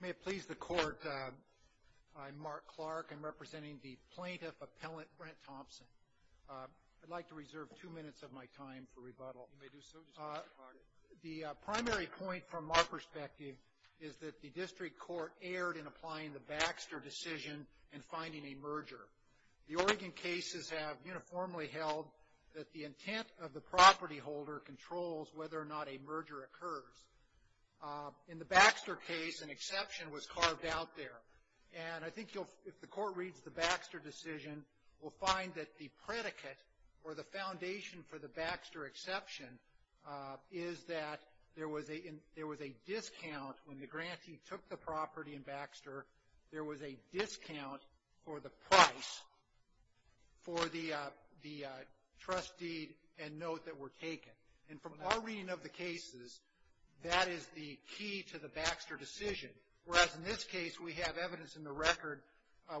May it please the court, I'm Mark Clark. I'm representing the plaintiff appellant Brent Thompson. I'd like to reserve two minutes of my time for rebuttal. You may do so, Mr. McCarty. The primary point from our perspective is that the district court erred in applying the Baxter decision and finding a merger. The Oregon cases have uniformly held that the intent of the property holder controls whether or not a merger occurs. In the Baxter case, an exception was carved out there. And I think if the court reads the Baxter decision, we'll find that the predicate or the foundation for the Baxter exception is that there was a discount. When the grantee took the property in Baxter, there was a discount for the price for the trust deed and note that were taken. And from our reading of the cases, that is the key to the Baxter decision. Whereas in this case, we have evidence in the record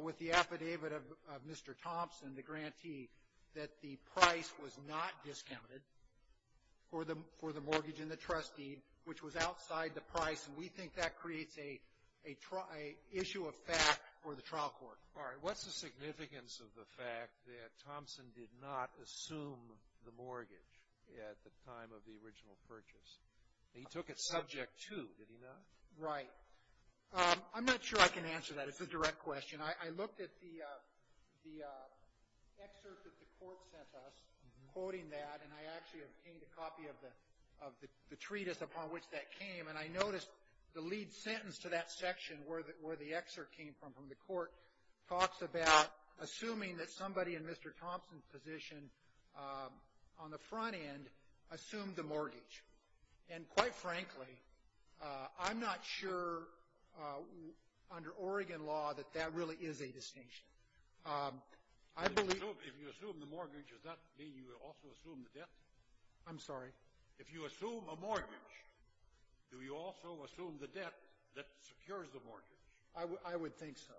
with the affidavit of Mr. Thompson, the grantee, that the price was not discounted for the mortgage and the trust deed, which was outside the price. And we think that creates an issue of fact for the trial court. All right. What's the significance of the fact that Thompson did not assume the mortgage at the time of the original purchase? He took it subject to, did he not? Right. I'm not sure I can answer that. It's a direct question. I looked at the excerpt that the court sent us, quoting that, and I actually obtained a copy of the treatise upon which that came. And I noticed the lead sentence to that section where the excerpt came from, from the court, talks about assuming that somebody in Mr. Thompson's position on the front end assumed the mortgage. And quite frankly, I'm not sure under Oregon law that that really is a distinction. If you assume the mortgage, does that mean you also assume the debt? I'm sorry? If you assume a mortgage, do you also assume the debt that secures the mortgage? I would think so.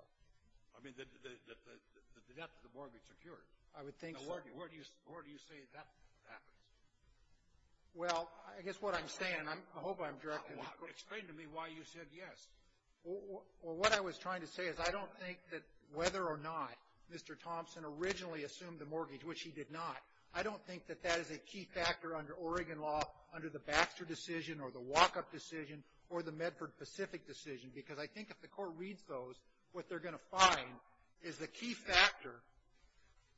I mean, the debt that the mortgage secures. I would think so. Now, where do you say that happens? Well, I guess what I'm saying, and I hope I'm directing the court's question. Explain to me why you said yes. Well, what I was trying to say is I don't think that whether or not Mr. Thompson originally assumed the mortgage, which he did not, I don't think that that is a key factor under Oregon law, under the Baxter decision or the walk-up decision or the Medford Pacific decision. Because I think if the court reads those, what they're going to find is the key factor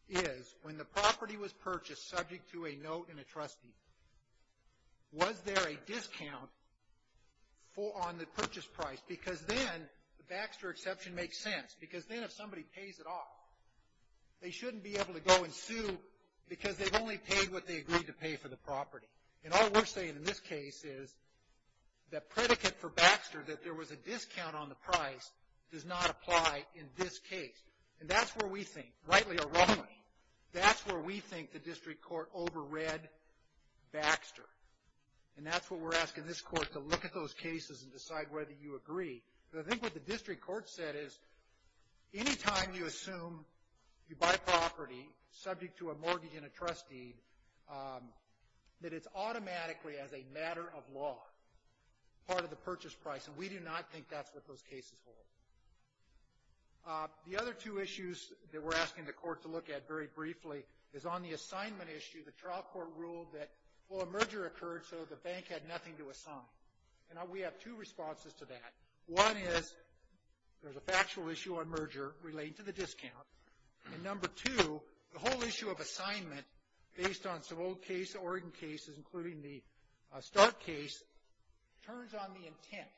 is when the property was purchased subject to a note in a trustee, was there a discount on the purchase price? Because then the Baxter exception makes sense. Because then if somebody pays it off, they shouldn't be able to go and sue because they've only paid what they agreed to pay for the property. And all we're saying in this case is that predicate for Baxter, that there was a discount on the price, does not apply in this case. And that's where we think, rightly or wrongly, that's where we think the district court overread Baxter. And that's what we're asking this court to look at those cases and decide whether you agree. Because I think what the district court said is any time you assume you buy property subject to a mortgage in a trustee, that it's automatically as a matter of law part of the purchase price. And we do not think that's what those cases hold. The other two issues that we're asking the court to look at very briefly is on the assignment issue, the trial court ruled that, well, a merger occurred so the bank had nothing to assign. And we have two responses to that. One is there's a factual issue on merger relating to the discount. And number two, the whole issue of assignment, based on some old case, Oregon cases, including the Stark case, turns on the intent.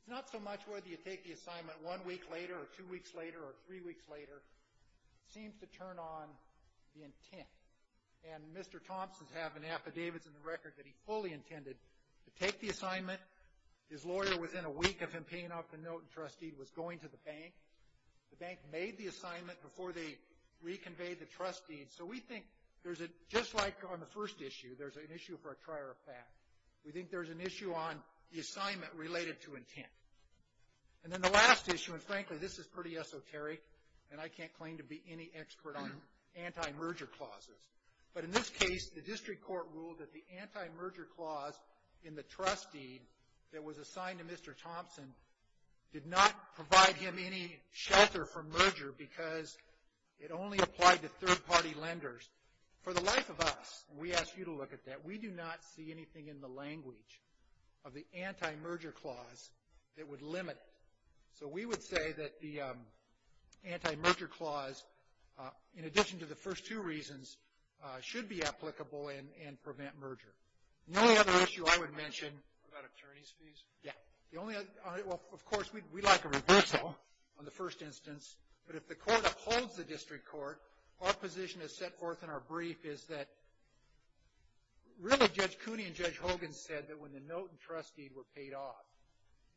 It's not so much whether you take the assignment one week later or two weeks later or three weeks later. It seems to turn on the intent. And Mr. Thompson has an affidavit in the record that he fully intended to take the assignment. His lawyer was in a week of him paying off the note and trustee was going to the bank. The bank made the assignment before they reconveyed the trust deed. So we think there's a, just like on the first issue, there's an issue for a trier of fact. We think there's an issue on the assignment related to intent. And then the last issue, and frankly this is pretty esoteric, and I can't claim to be any expert on anti-merger clauses. But in this case, the district court ruled that the anti-merger clause in the trust deed that was assigned to Mr. Thompson did not provide him any shelter for merger because it only applied to third-party lenders. For the life of us, we ask you to look at that, we do not see anything in the language of the anti-merger clause that would limit it. So we would say that the anti-merger clause, in addition to the first two reasons, should be applicable and prevent merger. The only other issue I would mention. About attorney's fees? Yeah. The only other, well, of course, we'd like a reversal on the first instance. But if the court upholds the district court, our position is set forth in our brief is that really Judge Cooney and Judge Hogan said that when the note and trust deed were paid off,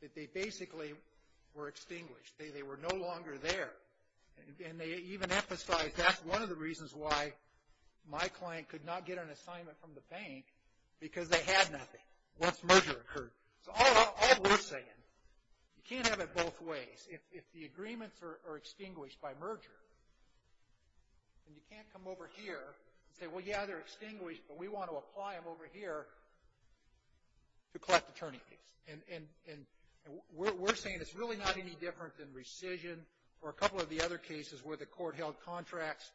that they basically were extinguished. They were no longer there. And they even emphasized that's one of the reasons why my client could not get an assignment from the bank, because they had nothing once merger occurred. So all we're saying, you can't have it both ways. If the agreements are extinguished by merger, then you can't come over here and say, well, yeah, they're extinguished, but we want to apply them over here to collect attorney fees. And we're saying it's really not any different than rescission or a couple of the other cases where the court held contracts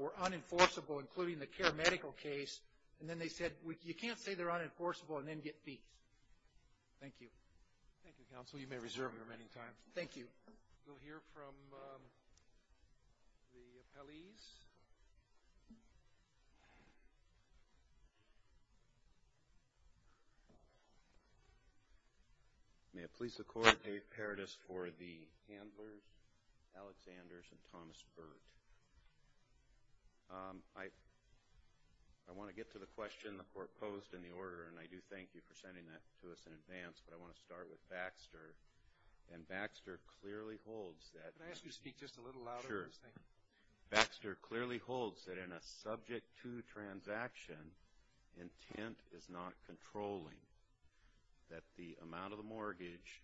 were unenforceable, including the care medical case, and then they said you can't say they're unenforceable and then get fees. Thank you. Thank you, counsel. You may reserve your remaining time. Thank you. We'll hear from the appellees. May it please the Court, Dave Paradis for the Handlers, Alexanders, and Thomas Burt. I want to get to the question the Court posed in the order, and I do thank you for sending that to us in advance, but I want to start with Baxter. And Baxter clearly holds that. Can I ask you to speak just a little louder? Sure. Baxter clearly holds that in a Subject 2 transaction, intent is not controlling, that the amount of the mortgage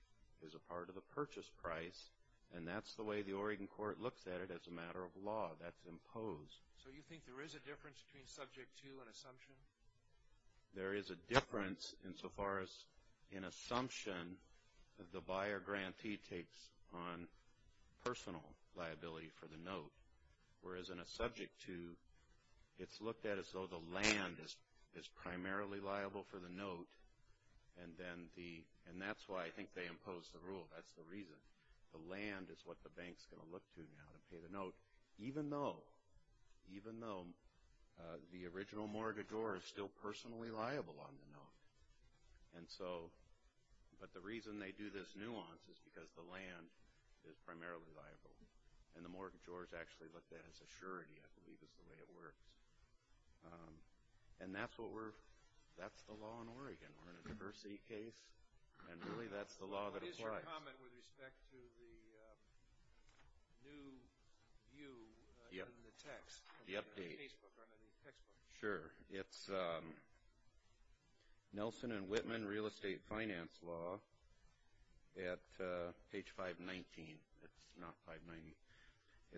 is a part of the purchase price, and that's the way the Oregon Court looks at it as a matter of law. That's imposed. So you think there is a difference between Subject 2 and Assumption? There is a difference insofar as in Assumption, the buyer grantee takes on personal liability for the note, whereas in a Subject 2, it's looked at as though the land is primarily liable for the note, and that's why I think they imposed the rule. That's the reason. The land is what the bank is going to look to now to pay the note, even though the original mortgagor is still personally liable on the note. But the reason they do this nuance is because the land is primarily liable, and the mortgagor is actually looked at as a surety, I believe, is the way it works. And that's the law in Oregon. We're in a diversity case, and really that's the law that applies. Just a comment with respect to the new view in the text. The update. In the casebook or in the textbook. Sure. It's Nelson and Whitman Real Estate Finance Law at page 519. It's not 519.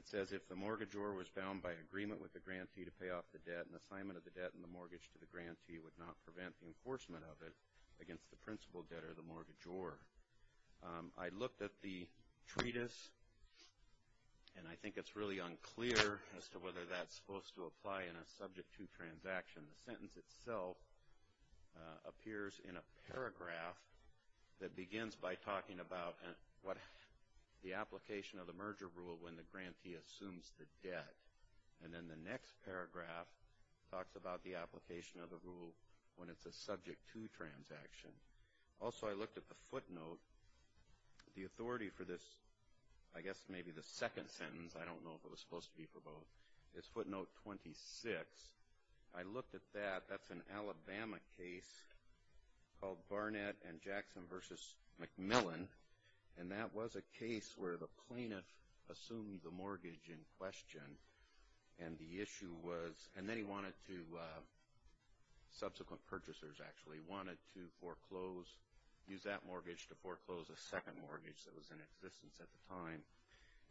It says, If the mortgagor was bound by agreement with the grantee to pay off the debt, an assignment of the debt in the mortgage to the grantee would not prevent the I looked at the treatise, and I think it's really unclear as to whether that's supposed to apply in a subject to transaction. The sentence itself appears in a paragraph that begins by talking about the application of the merger rule when the grantee assumes the debt. And then the next paragraph talks about the application of the rule when it's a subject to transaction. Also, I looked at the footnote. The authority for this, I guess maybe the second sentence, I don't know if it was supposed to be for both. It's footnote 26. I looked at that. That's an Alabama case called Barnett and Jackson v. McMillan. And that was a case where the plaintiff assumed the mortgage in question, and the issue was, and then he wanted to, subsequent purchasers actually, he wanted to use that mortgage to foreclose a second mortgage that was in existence at the time.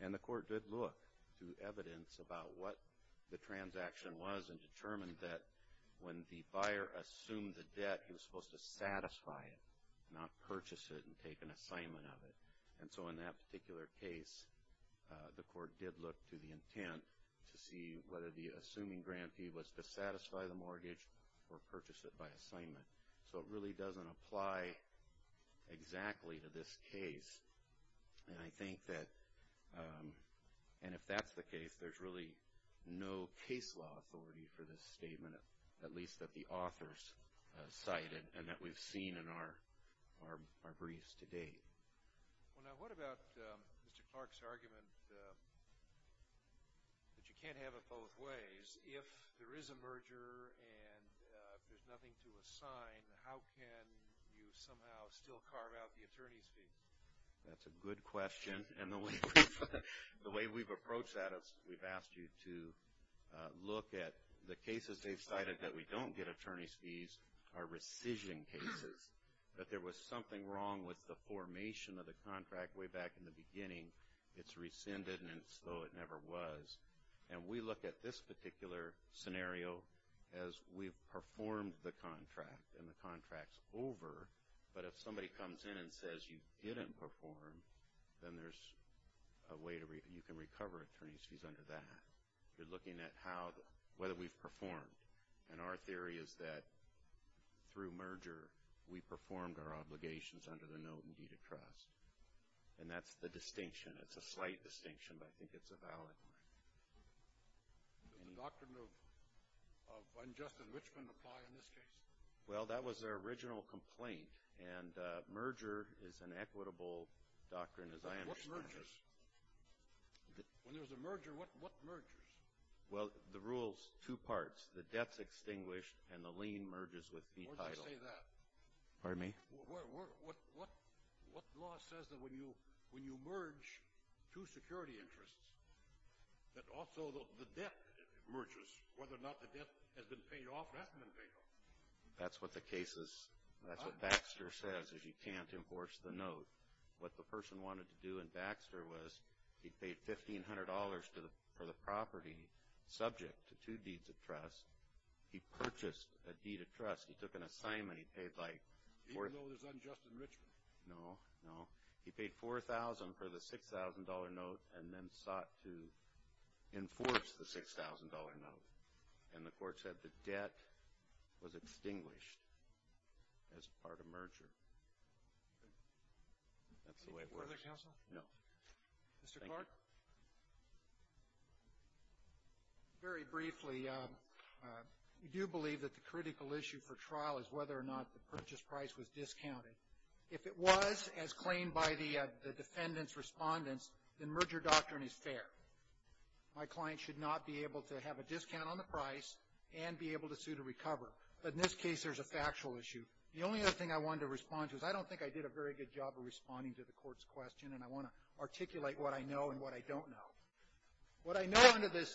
And the court did look to evidence about what the transaction was and determined that when the buyer assumed the debt, he was supposed to satisfy it, not purchase it and take an assignment of it. And so in that particular case, the court did look to the intent to see whether the assuming grantee was to satisfy the mortgage or purchase it by assignment. So it really doesn't apply exactly to this case. And I think that, and if that's the case, there's really no case law authority for this statement, at least that the authors cited and that we've seen in our briefs to date. Well, now, what about Mr. Clark's argument that you can't have it both ways? If there is a merger and there's nothing to assign, how can you somehow still carve out the attorney's fee? That's a good question. And the way we've approached that is we've asked you to look at the cases they've cited that we don't get attorney's fees are rescission cases, that there was something wrong with the formation of the contract way back in the beginning. It's rescinded, and it's as though it never was. And we look at this particular scenario as we've performed the contract, and the contract's over. But if somebody comes in and says you didn't perform, then there's a way you can recover attorney's fees under that. You're looking at how, whether we've performed. And our theory is that through merger, we performed our obligations under the note in deed of trust. And that's the distinction. It's a slight distinction, but I think it's a valid one. Does the doctrine of unjust enrichment apply in this case? Well, that was their original complaint. And merger is an equitable doctrine, as I understand it. What mergers? When there's a merger, what mergers? Well, the rule's two parts. The debt's extinguished, and the lien merges with the title. Where'd you say that? Pardon me? What law says that when you merge two security interests, that also the debt merges? Whether or not the debt has been paid off or hasn't been paid off? That's what the case is. That's what Baxter says, is you can't enforce the note. What the person wanted to do in Baxter was he paid $1,500 for the property subject to two deeds of trust. He purchased a deed of trust. He took an assignment. He paid, like, $4,000. Even though there's unjust enrichment? No, no. He paid $4,000 for the $6,000 note and then sought to enforce the $6,000 note. And the court said the debt was extinguished as part of merger. That's the way it works. Further counsel? No. Mr. Clark? Very briefly, we do believe that the critical issue for trial is whether or not the purchase price was discounted. If it was, as claimed by the defendant's respondents, then merger doctrine is fair. My client should not be able to have a discount on the price and be able to sue to recover. But in this case, there's a factual issue. The only other thing I wanted to respond to is I don't think I did a very good job of responding to the court's question, and I want to articulate what I know and what I don't know. What I know under this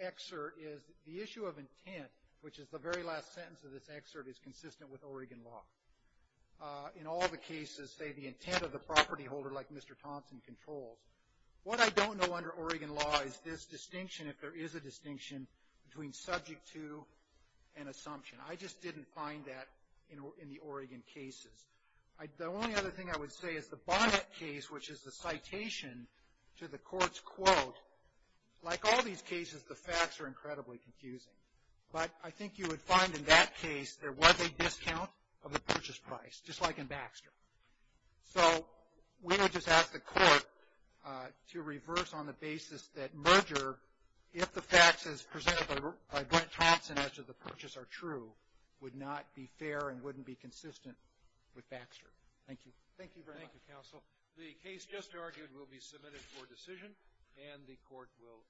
excerpt is the issue of intent, which is the very last sentence of this excerpt, is consistent with Oregon law. In all the cases, say, the intent of the property holder, like Mr. Thompson, controls. What I don't know under Oregon law is this distinction, if there is a distinction, between subject to and assumption. I just didn't find that in the Oregon cases. The only other thing I would say is the Bonnet case, which is the citation to the court's quote, like all these cases, the facts are incredibly confusing. But I think you would find in that case there was a discount of the purchase price, just like in Baxter. So we would just ask the court to reverse on the basis that merger, if the facts as presented by Brent Thompson as to the purchase are true, would not be fair and wouldn't be consistent with Baxter. Thank you. Thank you very much. Thank you, counsel. The case just argued will be submitted for decision, and the court will adjourn.